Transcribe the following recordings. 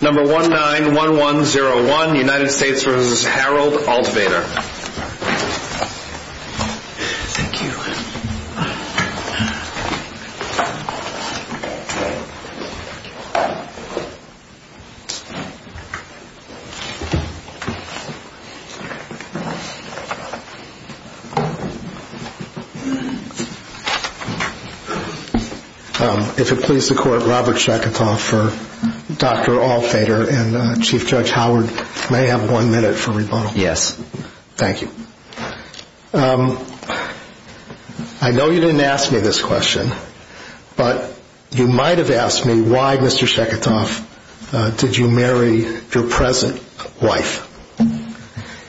Number 191101, United States v. Harold Altvater Thank you If it please the Court, Robert Shackenthal for Dr. Altvater and Chief Judge Howard may have one minute for rebuttal. Yes Thank you I know you didn't ask me this question, but you might have asked me why, Mr. Shackenthal, did you marry your present wife?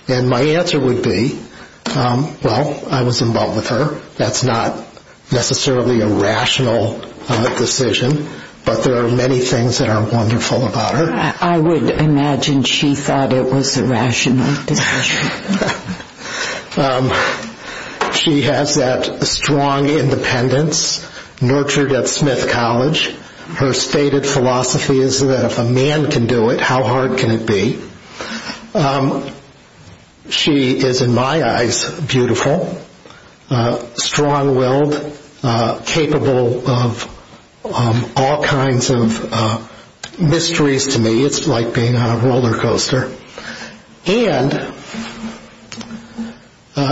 And my answer would be, well, I was in love with her. That's not necessarily a rational decision, but there are many things that are wonderful about her. I would imagine she thought it was a rational decision. She has that strong independence nurtured at Smith College. Her stated philosophy is that if a man can do it, how hard can it be? She is, in my eyes, beautiful, strong-willed, capable of all kinds of mysteries to me. It's like being on a roller coaster. And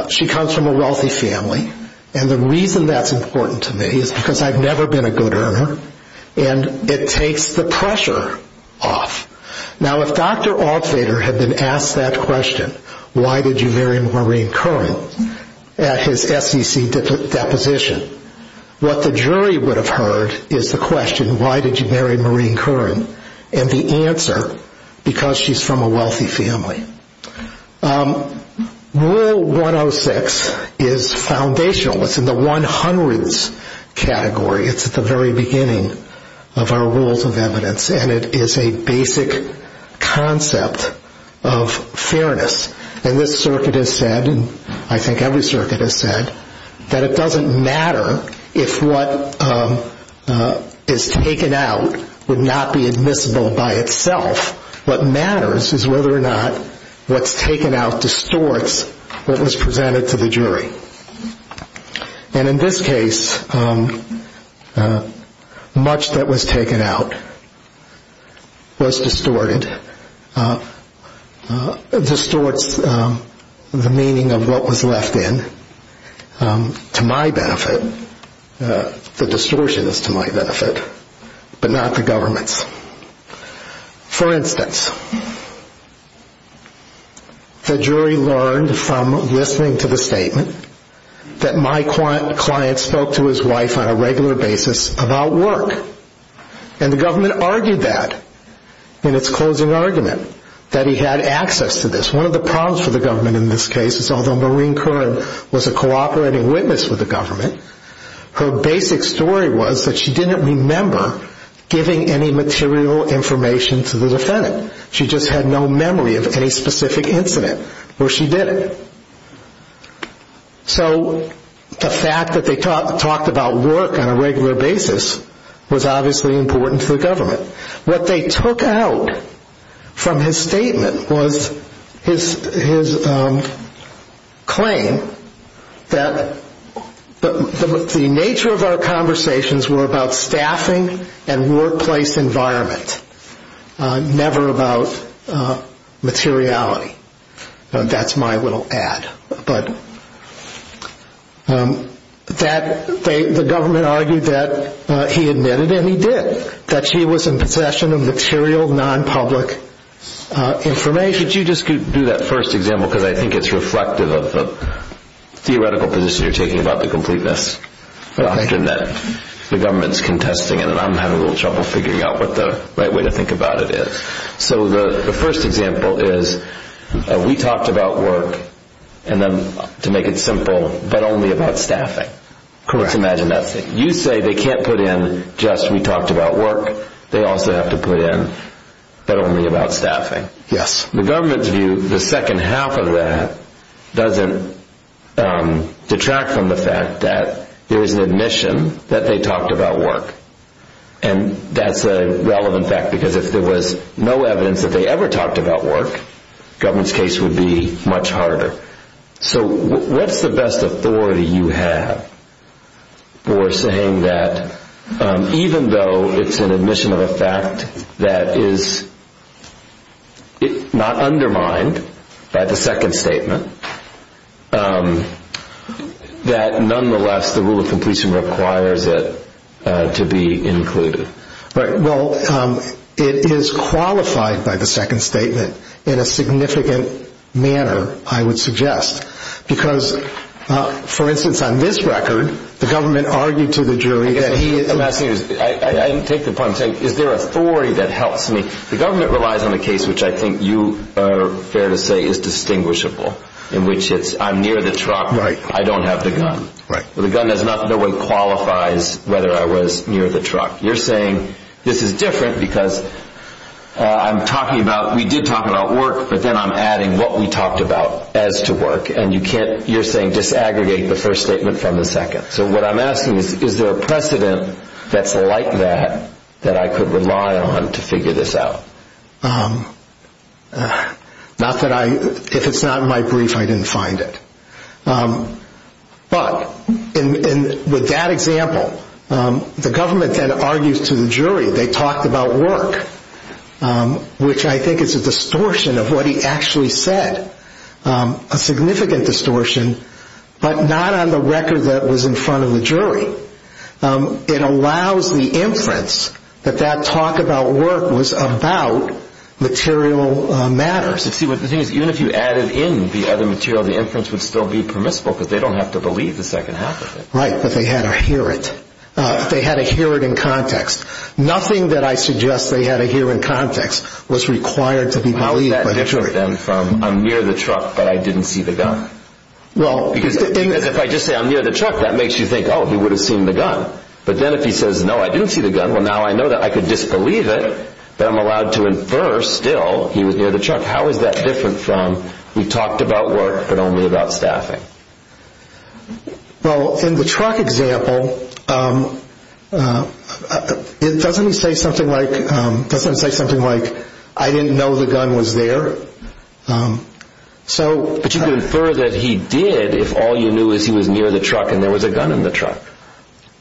she comes from a wealthy family, and the reason that's important to me is because I've never been a good earner, and it takes the pressure off. Now, if Dr. Altvater had been asked that question, why did you marry Maureen Curran, at his SEC deposition, what the jury would have heard is the question, why did you marry Maureen Curran, and the answer, because she's from a wealthy family. Rule 106 is foundational. It's in the 100s category. It's at the very beginning of our rules of evidence, and it is a basic concept of fairness. And this circuit has said, and I think every circuit has said, that it doesn't matter if what is taken out would not be admissible by itself. What matters is whether or not what's taken out distorts what was presented to the jury. And in this case, much that was taken out was distorted, distorts the meaning of what was left in, to my benefit. The distortion is to my benefit, but not the government's. For instance, the jury learned from listening to the statement that my client spoke to his wife on a regular basis about work, and the government argued that in its closing argument, that he had access to this. One of the problems for the government in this case is although Maureen Curran was a cooperating witness with the government, her basic story was that she didn't remember giving any material information to the defendant. She just had no memory of any specific incident where she did it. So the fact that they talked about work on a regular basis was obviously important to the government. What they took out from his statement was his claim that the nature of our conversations were about staffing and workplace environment, never about materiality. That's my little ad. The government argued that he admitted, and he did, that she was in possession of material, non-public information. Could you just do that first example, because I think it's reflective of the theoretical position you're taking about the completeness. The government's contesting it, and I'm having a little trouble figuring out what the right way to think about it is. So the first example is, we talked about work, to make it simple, but only about staffing. You say they can't put in just, we talked about work, they also have to put in, but only about staffing. The government's view, the second half of that, doesn't detract from the fact that there is an admission that they talked about work. And that's a relevant fact, because if there was no evidence that they ever talked about work, the government's case would be much harder. So what's the best authority you have for saying that even though it's an admission of a fact that is not undermined by the second statement, that nonetheless the rule of completion requires it to be included? Well, it is qualified by the second statement in a significant manner, I would suggest. Because, for instance, on this record, the government argued to the jury that he... What I'm asking is, is there authority that helps me? The government relies on a case which I think you are fair to say is distinguishable, in which it's, I'm near the truck, I don't have the gun. The gun in no way qualifies whether I was near the truck. You're saying this is different because I'm talking about, we did talk about work, but then I'm adding what we talked about as to work, and you can't, you're saying disaggregate the first statement from the second. So what I'm asking is, is there a precedent that's like that, that I could rely on to figure this out? Not that I, if it's not in my brief, I didn't find it. But, with that example, the government then argues to the jury, they talked about work, which I think is a distortion of what he actually said. A significant distortion, but not on the record that was in front of the jury. It allows the inference that that talk about work was about material matters. See, the thing is, even if you added in the other material, the inference would still be permissible because they don't have to believe the second half of it. Right, but they had to hear it. They had to hear it in context. Nothing that I suggest they had to hear in context was required to be believed by the jury. I'm near the truck, but I didn't see the gun. If I just say, I'm near the truck, that makes you think, oh, he would have seen the gun. But then if he says, no, I didn't see the gun, well, now I know that I could disbelieve it, that I'm allowed to infer, still, he was near the truck. How is that different from, we talked about work, but only about staffing? Well, in the truck example, doesn't he say something like, I didn't know the gun was there? But you could infer that he did if all you knew is he was near the truck and there was a gun in the truck.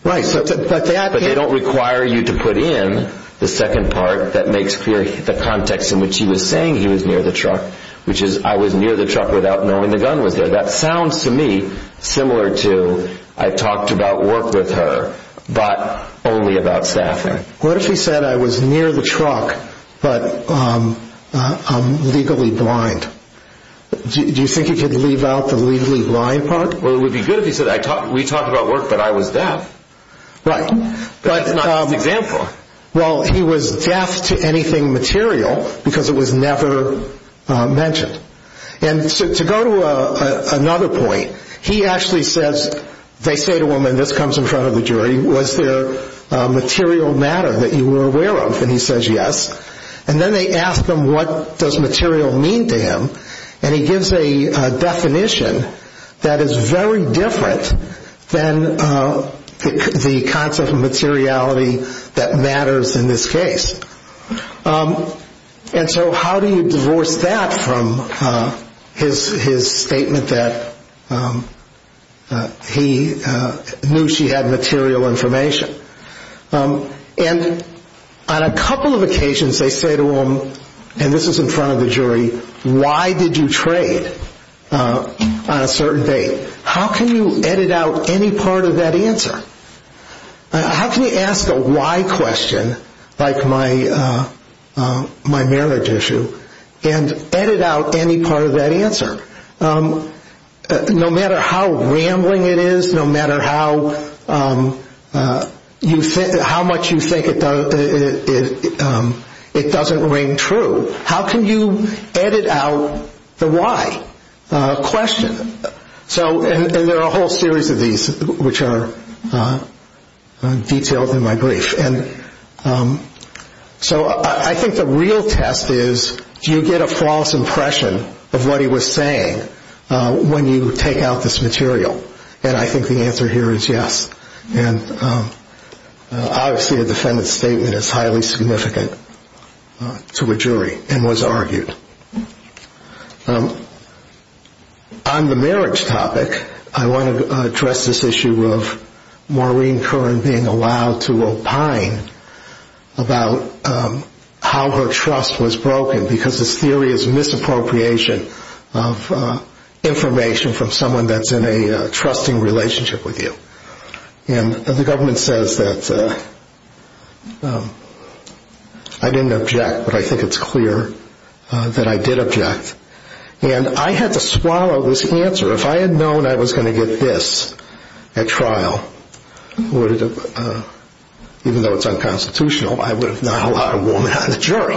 Right, but that... But they don't require you to put in the second part that makes clear the context in which he was saying he was near the truck, which is, I was near the truck without knowing the gun was there. That sounds to me similar to, I talked about work with her, but only about staffing. What if he said, I was near the truck, but I'm legally blind? Do you think he could leave out the legally blind part? Well, it would be good if he said, we talked about work, but I was deaf. Right. That's not his example. Well, he was deaf to anything material because it was never mentioned. And to go to another point, he actually says, they say to him, and this comes in front of the jury, was there a material matter that you were aware of? And he says yes. And then they ask him, what does material mean to him? And he gives a definition that is very different than the concept of materiality that matters in this case. And so how do you divorce that from his statement that he knew she had material information? And on a couple of occasions they say to him, and this is in front of the jury, why did you trade on a certain date? How can you edit out any part of that answer? How can you ask a why question, like my marriage issue, and edit out any part of that answer? No matter how rambling it is, no matter how much you think it doesn't ring true, how can you edit out the why question? And there are a whole series of these which are detailed in my brief. And so I think the real test is, do you get a false impression of what he was saying when you take out this material? And I think the answer here is yes. And obviously a defendant's statement is highly significant to a jury and was argued. On the marriage topic, I want to address this issue of Maureen Curran being allowed to opine about how her trust was broken, because this theory is misappropriation of information from someone that's in a trusting relationship with you. And the government says that I didn't object, but I think it's clear that I did object. And I had to swallow this answer. If I had known I was going to get this at trial, even though it's unconstitutional, I would have not allowed a woman on the jury.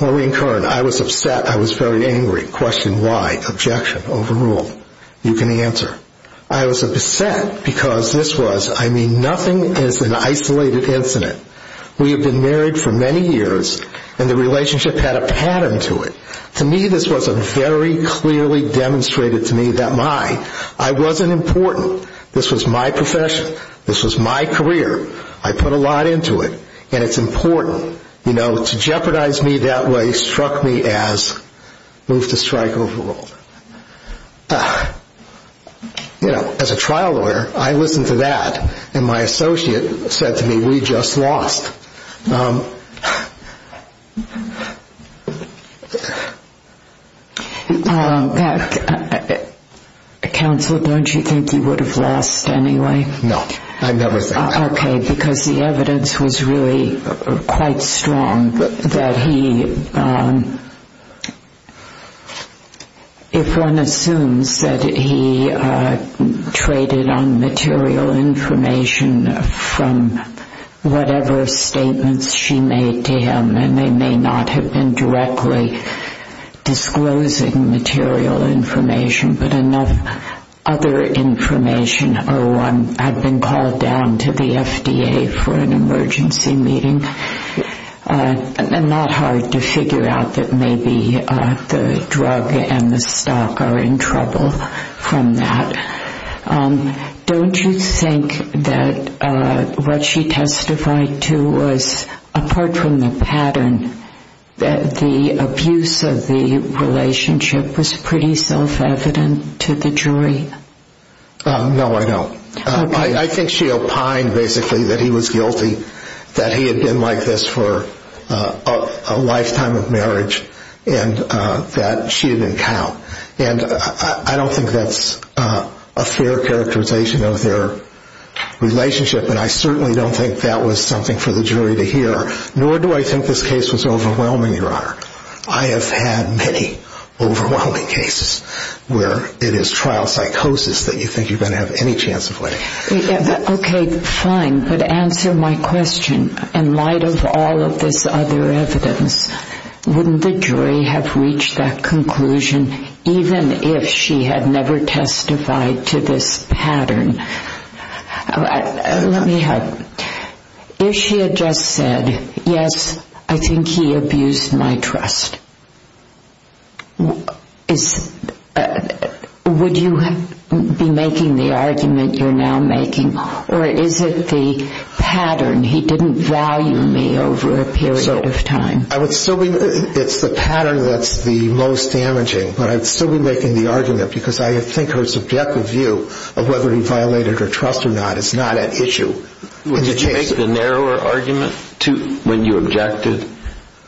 Maureen Curran, I was upset. I was very angry. Question why? Objection? Overrule? You can answer. I was upset because this was, I mean, nothing is an isolated incident. We have been married for many years, and the relationship had a pattern to it. To me, this wasn't very clearly demonstrated to me that my, I wasn't important. This was my profession. This was my career. I put a lot into it, and it's important. You know, to jeopardize me that way struck me as move to strike overruled. You know, as a trial lawyer, I listened to that, and my associate said to me, we just lost. Counsel, don't you think you would have lost anyway? No, I never think that. Okay, because the evidence was really quite strong that he, if one assumes that he traded on material information from whatever statements she made to him, and they may not have been directly disclosing material information, but enough other information or one had been called down to the FDA for an emergency meeting, and not hard to figure out that maybe the drug and the stock are in trouble from that. Don't you think that what she testified to was, apart from the pattern, that the abuse of the relationship was pretty self-evident to the jury? No, I don't. Okay. I think she opined basically that he was guilty, that he had been like this for a lifetime of marriage, and that she didn't count. And I don't think that's a fair characterization of their relationship, and I certainly don't think that was something for the jury to hear. Nor do I think this case was overwhelming, Your Honor. I have had many overwhelming cases where it is trial psychosis that you think you're going to have any chance of winning. Okay, fine, but answer my question. In light of all of this other evidence, wouldn't the jury have reached that conclusion even if she had never testified to this pattern? Let me help. If she had just said, yes, I think he abused my trust, would you be making the argument you're now making, or is it the pattern, he didn't value me over a period of time? It's the pattern that's the most damaging, but I'd still be making the argument because I think her subjective view of whether he violated her trust or not is not at issue. Did you make the narrower argument when you objected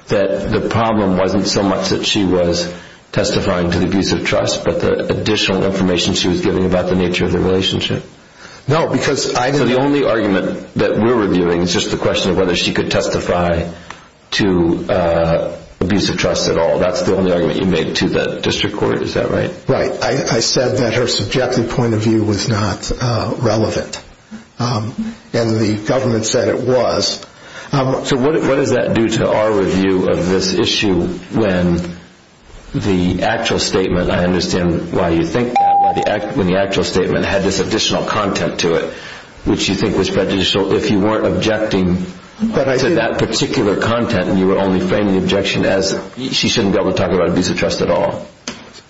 that the problem wasn't so much that she was testifying to the abuse of trust, but the additional information she was giving about the nature of the relationship? No, because I didn't. So the only argument that we're reviewing is just the question of whether she could testify to abuse of trust at all. That's the only argument you made to the district court, is that right? Right. I said that her subjective point of view was not relevant, and the government said it was. So what does that do to our review of this issue when the actual statement, I understand why you think that, when the actual statement had this additional content to it, which you think was prejudicial, if you weren't objecting to that particular content and you were only framing the objection as she shouldn't be able to talk about abuse of trust at all?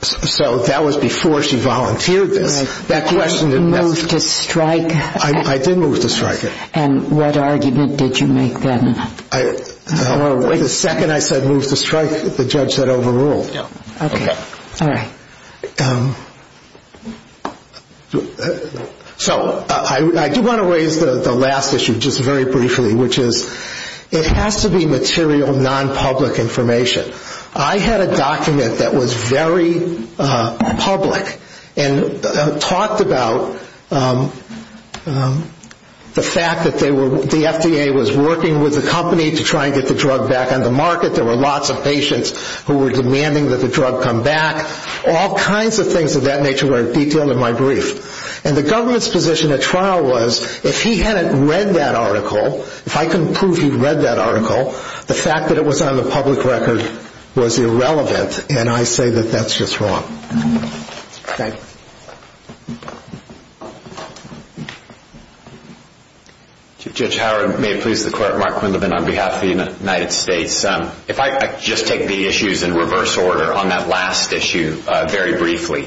So that was before she volunteered this. You moved to strike. I did move to strike. And what argument did you make then? The second I said move to strike, the judge said overrule. Okay. All right. So I do want to raise the last issue just very briefly, which is it has to be material, nonpublic information. I had a document that was very public and talked about the fact that the FDA was working with the company to try and get the drug back on the market. There were lots of patients who were demanding that the drug come back. All kinds of things of that nature were detailed in my brief. And the government's position at trial was if he hadn't read that article, if I couldn't prove he read that article, the fact that it was on the public record was irrelevant. And I say that that's just wrong. Thank you. Judge Howard, may it please the Court, Mark Quindlen on behalf of the United States. If I just take the issues in reverse order on that last issue very briefly,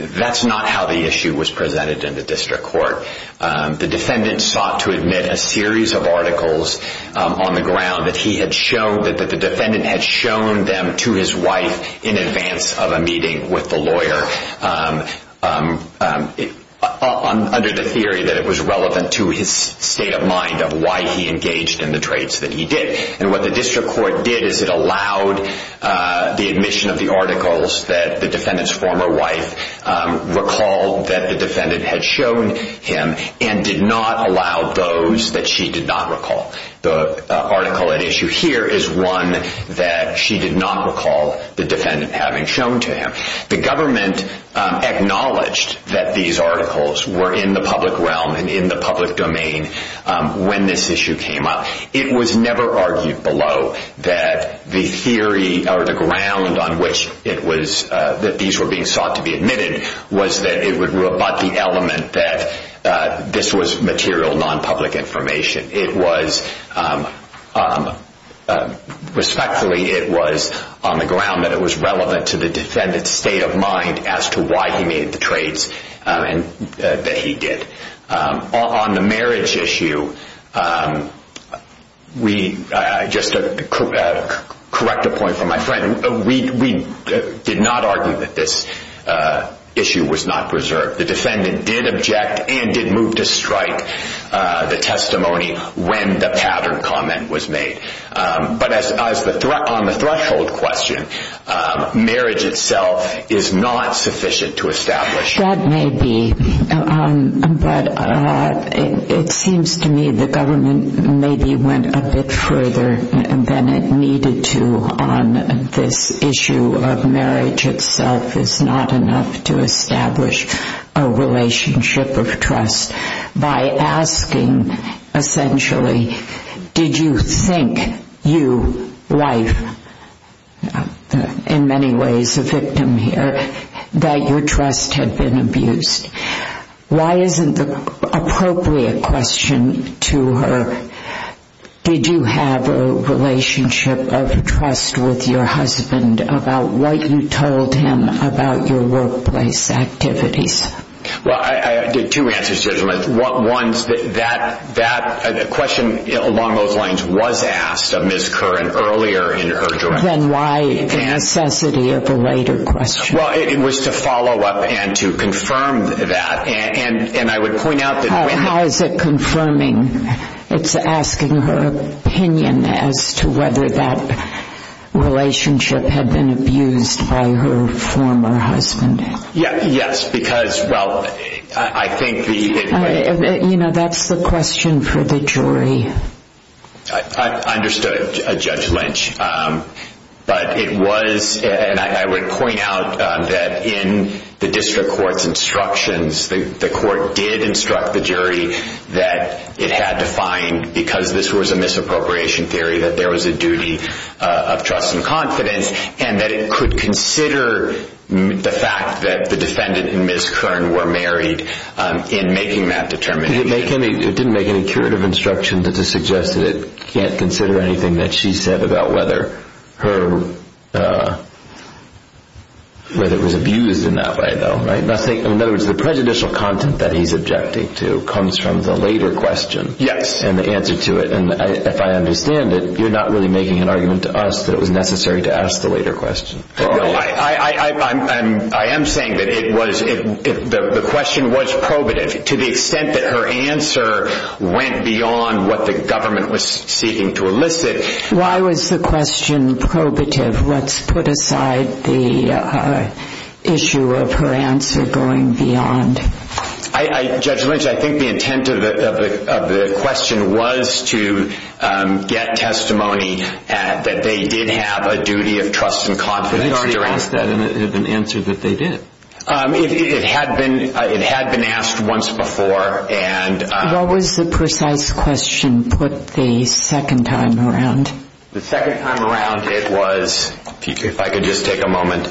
that's not how the issue was presented in the district court. The defendant sought to admit a series of articles on the ground that he had shown, that the defendant had shown them to his wife in advance of a meeting with the lawyer under the theory that it was relevant to his state of mind of why he engaged in the trades that he did. And what the district court did is it allowed the admission of the articles that the defendant's former wife recalled that the defendant had shown him and did not allow those that she did not recall. The article at issue here is one that she did not recall the defendant having shown to him. The government acknowledged that these articles were in the public realm and in the public domain when this issue came up. It was never argued below that the theory or the ground on which it was that these were being sought to be admitted was that it would rebut the element that this was material, non-public information. It was respectfully it was on the ground that it was relevant to the defendant's state of mind as to why he made the trades that he did. On the marriage issue, we did not argue that this issue was not preserved. The defendant did object and did move to strike the testimony when the pattern comment was made. But on the threshold question, marriage itself is not sufficient to establish. That may be, but it seems to me the government maybe went a bit further than it needed to on this issue of marriage itself is not enough to establish a relationship of trust. By asking essentially, did you think you, wife, in many ways a victim here, that your trust had been abused? Why isn't the appropriate question to her, did you have a relationship of trust with your husband about what you told him about your workplace activities? Well, I did two answers to this one. One is that that question along those lines was asked of Ms. Curran earlier in her journey. Then why the necessity of a later question? Well, it was to follow up and to confirm that. And I would point out that when... How is it confirming? It's asking her opinion as to whether that relationship had been abused by her former husband. Yes, because, well, I think... You know, that's the question for the jury. I understood, Judge Lynch. But it was, and I would point out that in the district court's instructions, the court did instruct the jury that it had to find, because this was a misappropriation theory, that there was a duty of trust and confidence. And that it could consider the fact that the defendant and Ms. Curran were married in making that determination. It didn't make any curative instruction to suggest that it can't consider anything that she said about whether it was abused in that way, though, right? In other words, the prejudicial content that he's objecting to comes from the later question. Yes. And the answer to it, and if I understand it, you're not really making an argument to us that it was necessary to ask the later question. No, I am saying that it was... The question was probative to the extent that her answer went beyond what the government was seeking to elicit. Why was the question probative? Let's put aside the issue of her answer going beyond. Judge Lynch, I think the intent of the question was to get testimony that they did have a duty of trust and confidence. But they already asked that, and it had been answered that they did. It had been asked once before, and... What was the precise question put the second time around? The second time around, it was... If I could just take a moment.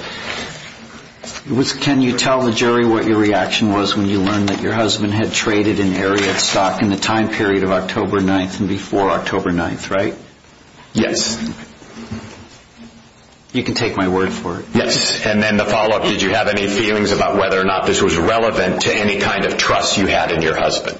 Can you tell the jury what your reaction was when you learned that your husband had traded in Ariat stock in the time period of October 9th and before October 9th, right? Yes. You can take my word for it. Yes. And then the follow-up, did you have any feelings about whether or not this was relevant to any kind of trust you had in your husband?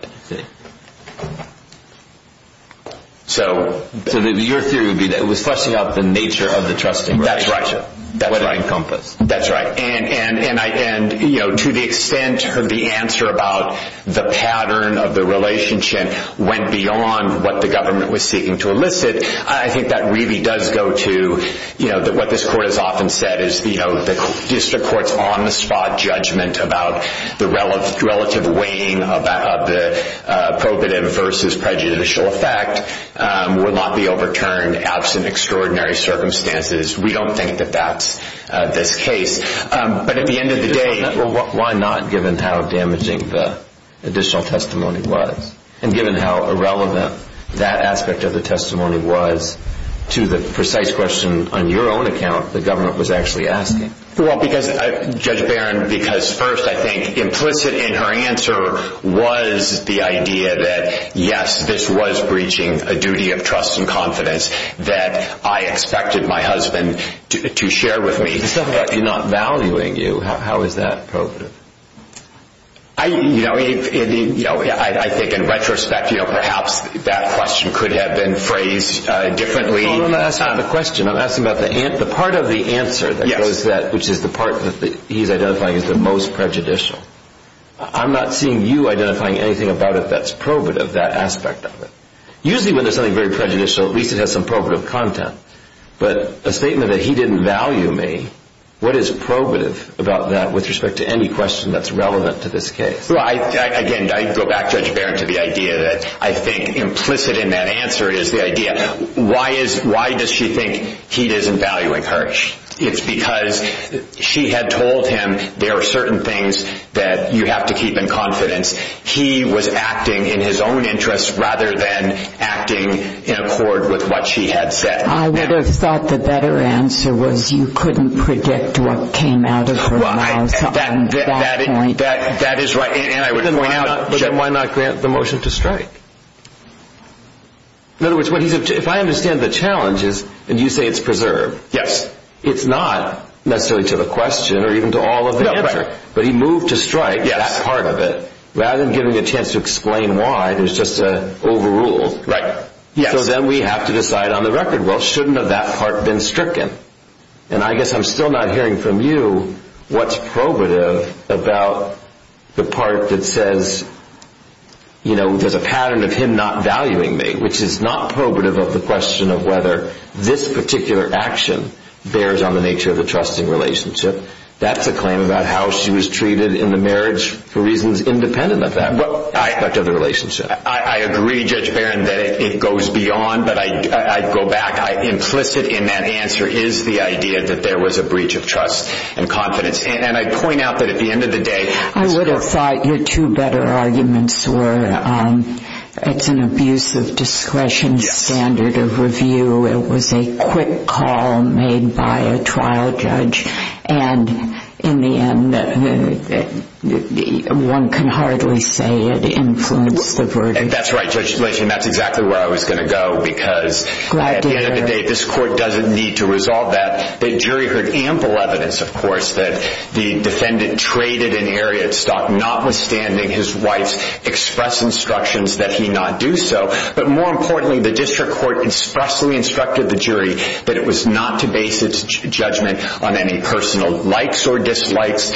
So your theory would be that... It was fleshing out the nature of the trusting relationship. That's right. That would encompass. That's right. And to the extent that the answer about the pattern of the relationship went beyond what the government was seeking to elicit, I think that really does go to what this court has often said is the district court's on-the-spot judgment about the relative weighing of the probative versus prejudicial effect would not be overturned absent extraordinary circumstances. We don't think that that's this case. But at the end of the day... Why not, given how damaging the additional testimony was? And given how irrelevant that aspect of the testimony was to the precise question on your own account the government was actually asking? Well, Judge Barron, because first I think implicit in her answer was the idea that, yes, this was breaching a duty of trust and confidence that I expected my husband to share with me. But you're not valuing you. How is that appropriate? I think in retrospect perhaps that question could have been phrased differently. No, I'm not asking about the question. I'm asking about the part of the answer, which is the part that he's identifying as the most prejudicial. I'm not seeing you identifying anything about it that's probative, that aspect of it. Usually when there's something very prejudicial, at least it has some probative content. But a statement that he didn't value me, what is probative about that with respect to any question that's relevant to this case? Again, I go back, Judge Barron, to the idea that I think implicit in that answer is the idea, why does she think he isn't valuing her? It's because she had told him there are certain things that you have to keep in confidence. He was acting in his own interest rather than acting in accord with what she had said. I would have thought the better answer was you couldn't predict what came out of her mouth at that point. Then why not grant the motion to strike? In other words, if I understand the challenge, and you say it's preserved, it's not necessarily to the question or even to all of the answer. But he moved to strike that part of it rather than giving a chance to explain why. There's just an overrule. So then we have to decide on the record, well, shouldn't have that part been stricken? And I guess I'm still not hearing from you what's probative about the part that says there's a pattern of him not valuing me, which is not probative of the question of whether this particular action bears on the nature of the trusting relationship. That's a claim about how she was treated in the marriage for reasons independent of that, of the relationship. I agree, Judge Barron, that it goes beyond, but I'd go back. Implicit in that answer is the idea that there was a breach of trust and confidence. And I'd point out that at the end of the day— I would have thought your two better arguments were it's an abuse of discretion standard of review. It was a quick call made by a trial judge. And in the end, one can hardly say it influenced the verdict. That's right, Judge Schlichten. That's exactly where I was going to go because— Glad to hear it. —at the end of the day, this court doesn't need to resolve that. The jury heard ample evidence, of course, that the defendant traded an area of stock, notwithstanding his wife's express instructions that he not do so. But more importantly, the district court expressly instructed the jury that it was not to base its judgment on any personal likes or dislikes,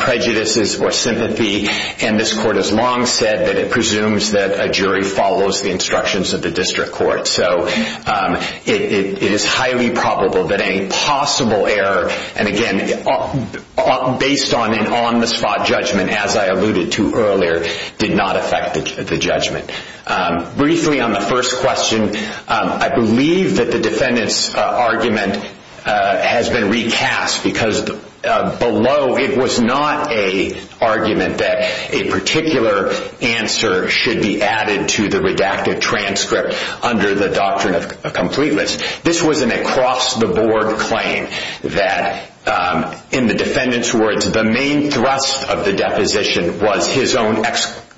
prejudices or sympathy. And this court has long said that it presumes that a jury follows the instructions of the district court. So it is highly probable that any possible error, and again, based on an on-the-spot judgment, as I alluded to earlier, did not affect the judgment. Briefly on the first question, I believe that the defendant's argument has been recast because below it was not an argument that a particular answer should be added to the redacted transcript under the doctrine of completeness. This was an across-the-board claim that, in the defendant's words, the main thrust of the deposition was his own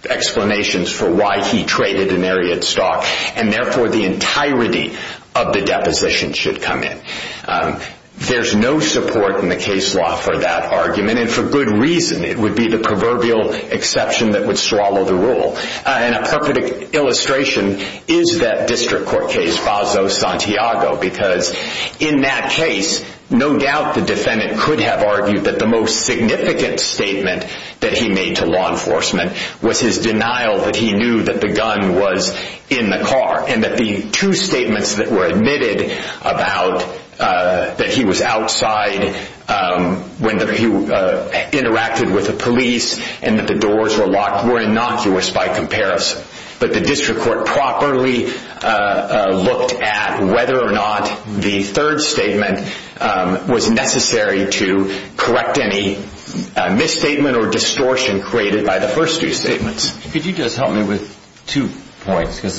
explanations for why he traded an area of stock, and therefore the entirety of the deposition should come in. There's no support in the case law for that argument, and for good reason. It would be the proverbial exception that would swallow the rule. And a perfect illustration is that district court case Baso-Santiago, because in that case, no doubt the defendant could have argued that the most significant statement that he made to law enforcement was his denial that he knew that the gun was in the car, and that the two statements that were admitted about that he was outside when he interacted with the police and that the doors were locked were innocuous by comparison. But the district court properly looked at whether or not the third statement was necessary to correct any misstatement or distortion created by the first two statements. Could you just help me with two points? Because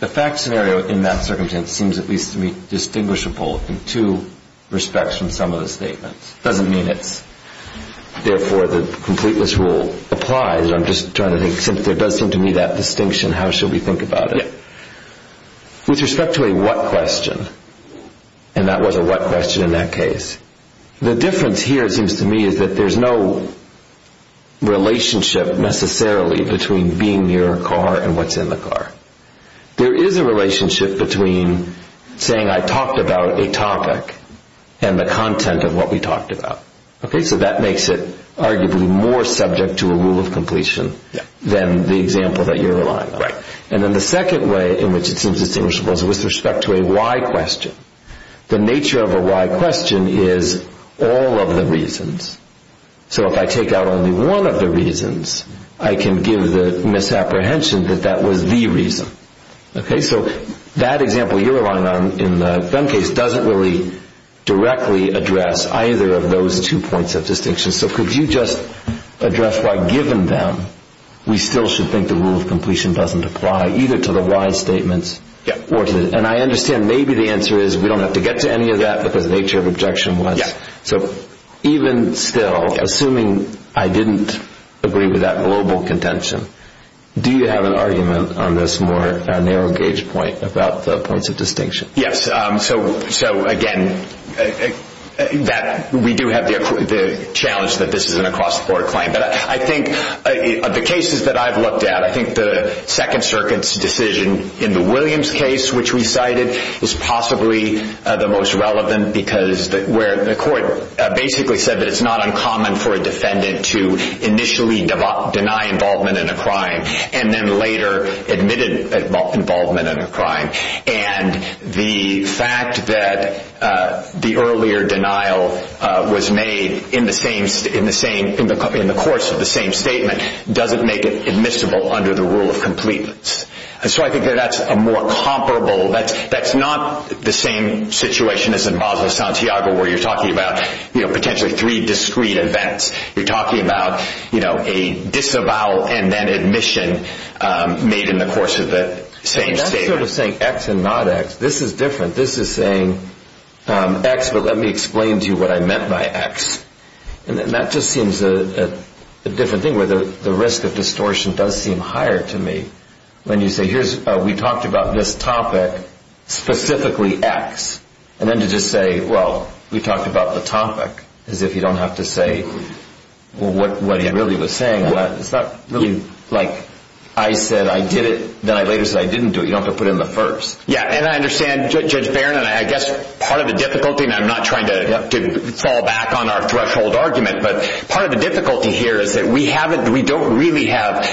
the fact scenario in that circumstance seems at least to me distinguishable in two respects from some of the statements. It doesn't mean it's therefore the completeness rule applies. I'm just trying to think, since there does seem to me that distinction, how should we think about it? With respect to a what question, and that was a what question in that case, the difference here seems to me is that there's no relationship necessarily between being near a car and what's in the car. There is a relationship between saying I talked about a topic and the content of what we talked about. So that makes it arguably more subject to a rule of completion than the example that you're relying on. And then the second way in which it seems distinguishable is with respect to a why question. The nature of a why question is all of the reasons. So if I take out only one of the reasons, I can give the misapprehension that that was the reason. So that example you're relying on in the gun case doesn't really directly address either of those two points of distinction. So could you just address why, given them, we still should think the rule of completion doesn't apply either to the why statements. And I understand maybe the answer is we don't have to get to any of that, but the nature of objection was. So even still, assuming I didn't agree with that global contention, do you have an argument on this more narrow gauge point about the points of distinction? Yes. So again, we do have the challenge that this is an across-the-board claim. But I think the cases that I've looked at, I think the Second Circuit's decision in the Williams case, which we cited, was possibly the most relevant because where the court basically said that it's not uncommon for a defendant to initially deny involvement in a crime and then later admitted involvement in a crime. And the fact that the earlier denial was made in the course of the same statement doesn't make it admissible under the rule of completeness. And so I think that that's a more comparable, that's not the same situation as in Basel Santiago where you're talking about potentially three discrete events. You're talking about a disavowal and then admission made in the course of the same statement. That's sort of saying X and not X. This is different. This is saying X, but let me explain to you what I meant by X. And that just seems a different thing where the risk of distortion does seem higher to me. When you say, we talked about this topic, specifically X. And then to just say, well, we talked about the topic, as if you don't have to say what he really was saying. It's not really like I said I did it, then I later said I didn't do it. You don't have to put in the first. Yeah, and I understand Judge Barron, and I guess part of the difficulty, and I'm not trying to fall back on our threshold argument, but part of the difficulty here is that we don't really have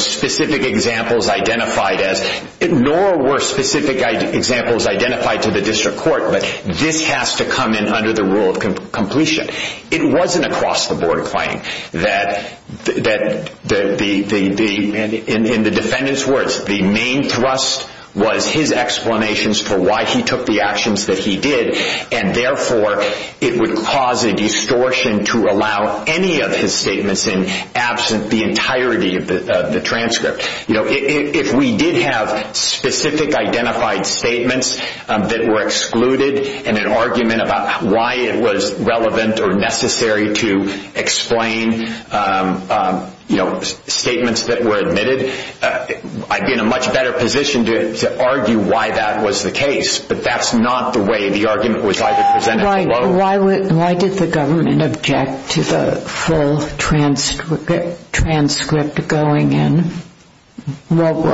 specific examples identified as, nor were specific examples identified to the district court, but this has to come in under the rule of completion. It wasn't across the board a claim that, in the defendant's words, the main thrust was his explanations for why he took the actions that he did, and therefore it would cause a distortion to allow any of his statements in absent the entirety of the transcript. If we did have specific identified statements that were excluded, and an argument about why it was relevant or necessary to explain statements that were admitted, I'd be in a much better position to argue why that was the case. But that's not the way the argument was either presented below. Why did the government object to the full transcript going in? What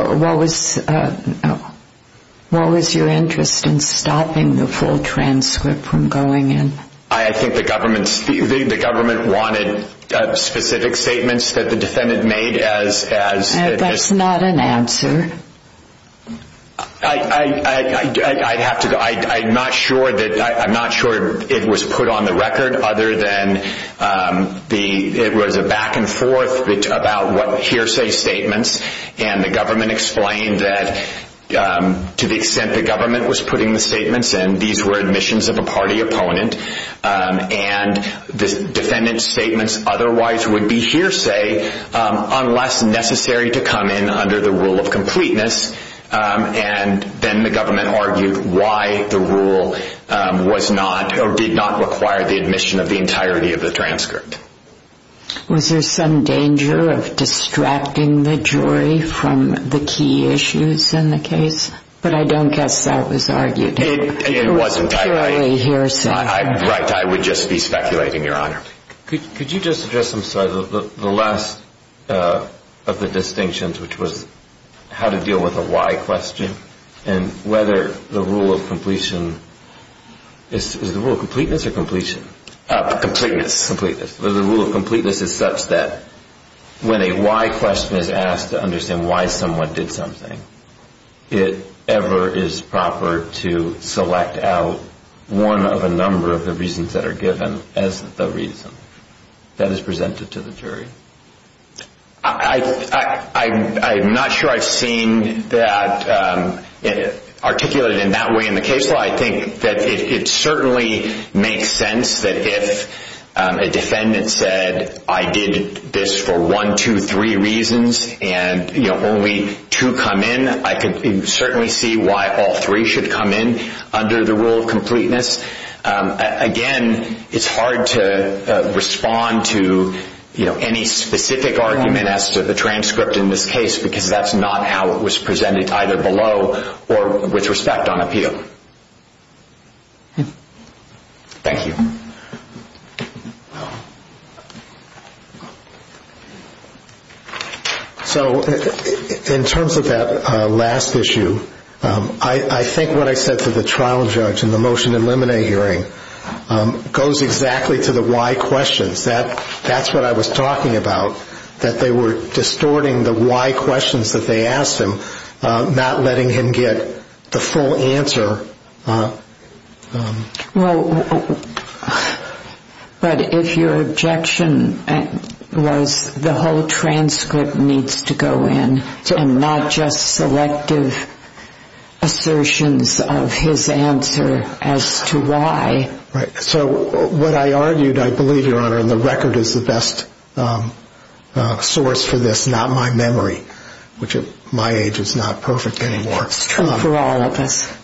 was your interest in stopping the full transcript from going in? I think the government wanted specific statements that the defendant made as... That's not an answer. I'm not sure it was put on the record other than it was a back and forth about what hearsay statements, and the government explained that to the extent the government was putting the statements in, these were admissions of a party opponent, and the defendant's statements otherwise would be hearsay unless necessary to come in under the rule of completeness, and then the government argued why the rule did not require the admission of the entirety of the transcript. Was there some danger of distracting the jury from the key issues in the case? But I don't guess that was argued. It wasn't. There are no hearsay. Right. I would just be speculating, Your Honor. Could you just address the last of the distinctions, which was how to deal with a why question, and whether the rule of completeness is such that when a why question is asked to understand why someone did something, it ever is proper to select out one of a number of the reasons that are given as the reason that is presented to the jury? I'm not sure I've seen that articulated in that way in the case law. I think that it certainly makes sense that if a defendant said, I did this for one, two, three reasons, and only two come in, I could certainly see why all three should come in under the rule of completeness. Again, it's hard to respond to any specific argument as to the transcript in this case because that's not how it was presented either below or with respect on appeal. Thank you. So in terms of that last issue, I think what I said to the trial judge in the motion to eliminate hearing goes exactly to the why questions. That's what I was talking about, that they were distorting the why questions that they asked him, not letting him get the full answer. Well, but if your objection was the whole transcript needs to go in and not just selective assertions of his answer as to why. So what I argued, I believe, Your Honor, and the record is the best source for this, not my memory, which at my age is not perfect anymore. It's true for all of us.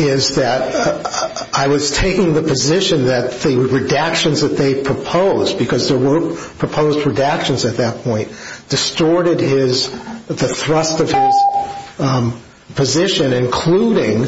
Is that I was taking the position that the redactions that they proposed, because there were proposed redactions at that point, distorted the thrust of his position, including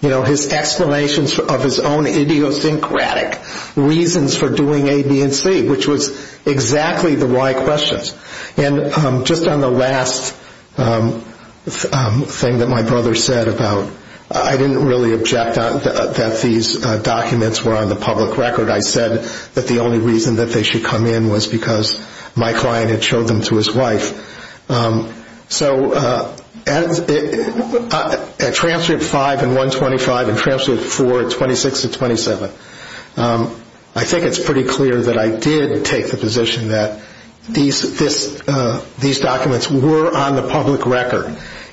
his explanations of his own idiosyncratic reasons for doing A, B, and C, which was exactly the why questions. And just on the last thing that my brother said about I didn't really object that these documents were on the public record. I said that the only reason that they should come in was because my client had showed them to his wife. So at transcript five and 125 and transcript four at 26 and 27, I think it's pretty clear that I did take the position that these documents were on the public record.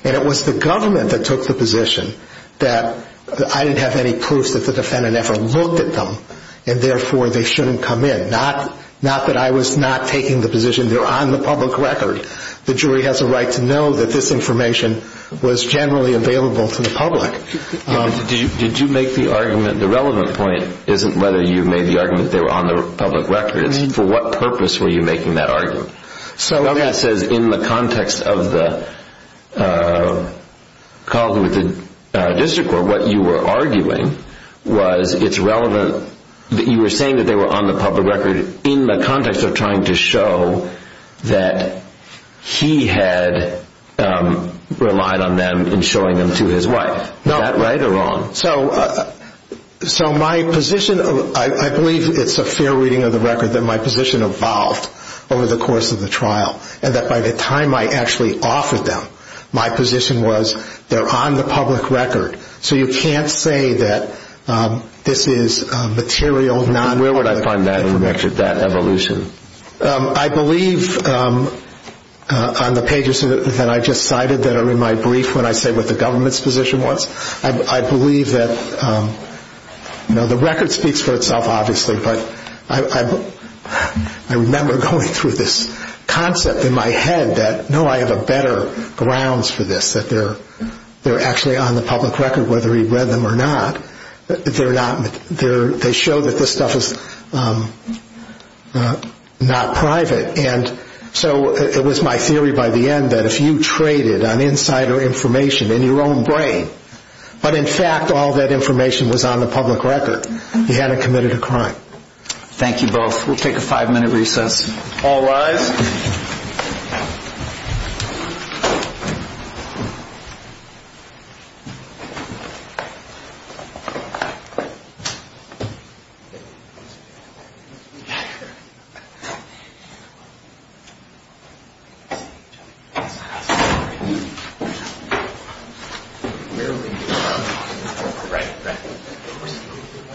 And it was the government that took the position that I didn't have any proof that the defendant ever looked at them, and therefore they shouldn't come in. Not that I was not taking the position they're on the public record. The jury has a right to know that this information was generally available to the public. Did you make the argument, the relevant point isn't whether you made the argument they were on the public record. It's for what purpose were you making that argument? So that says in the context of the call with the district court, what you were arguing was it's relevant that you were saying that they were on the public record in the context of trying to show that he had relied on them in showing them to his wife. Is that right or wrong? So my position, I believe it's a fair reading of the record, that my position evolved over the course of the trial. And that by the time I actually offered them, my position was they're on the public record. So you can't say that this is material non- Where would I find that information, that evolution? I believe on the pages that I just cited that are in my brief when I say what the government's position was, I believe that the record speaks for itself obviously, but I remember going through this concept in my head that no, I have a better grounds for this, that they're actually on the public record whether he read them or not. They show that this stuff is not private. And so it was my theory by the end that if you traded on insider information in your own brain, but in fact all that information was on the public record, he hadn't committed a crime. Thank you both. We'll take a five-minute recess. All rise. Thank you.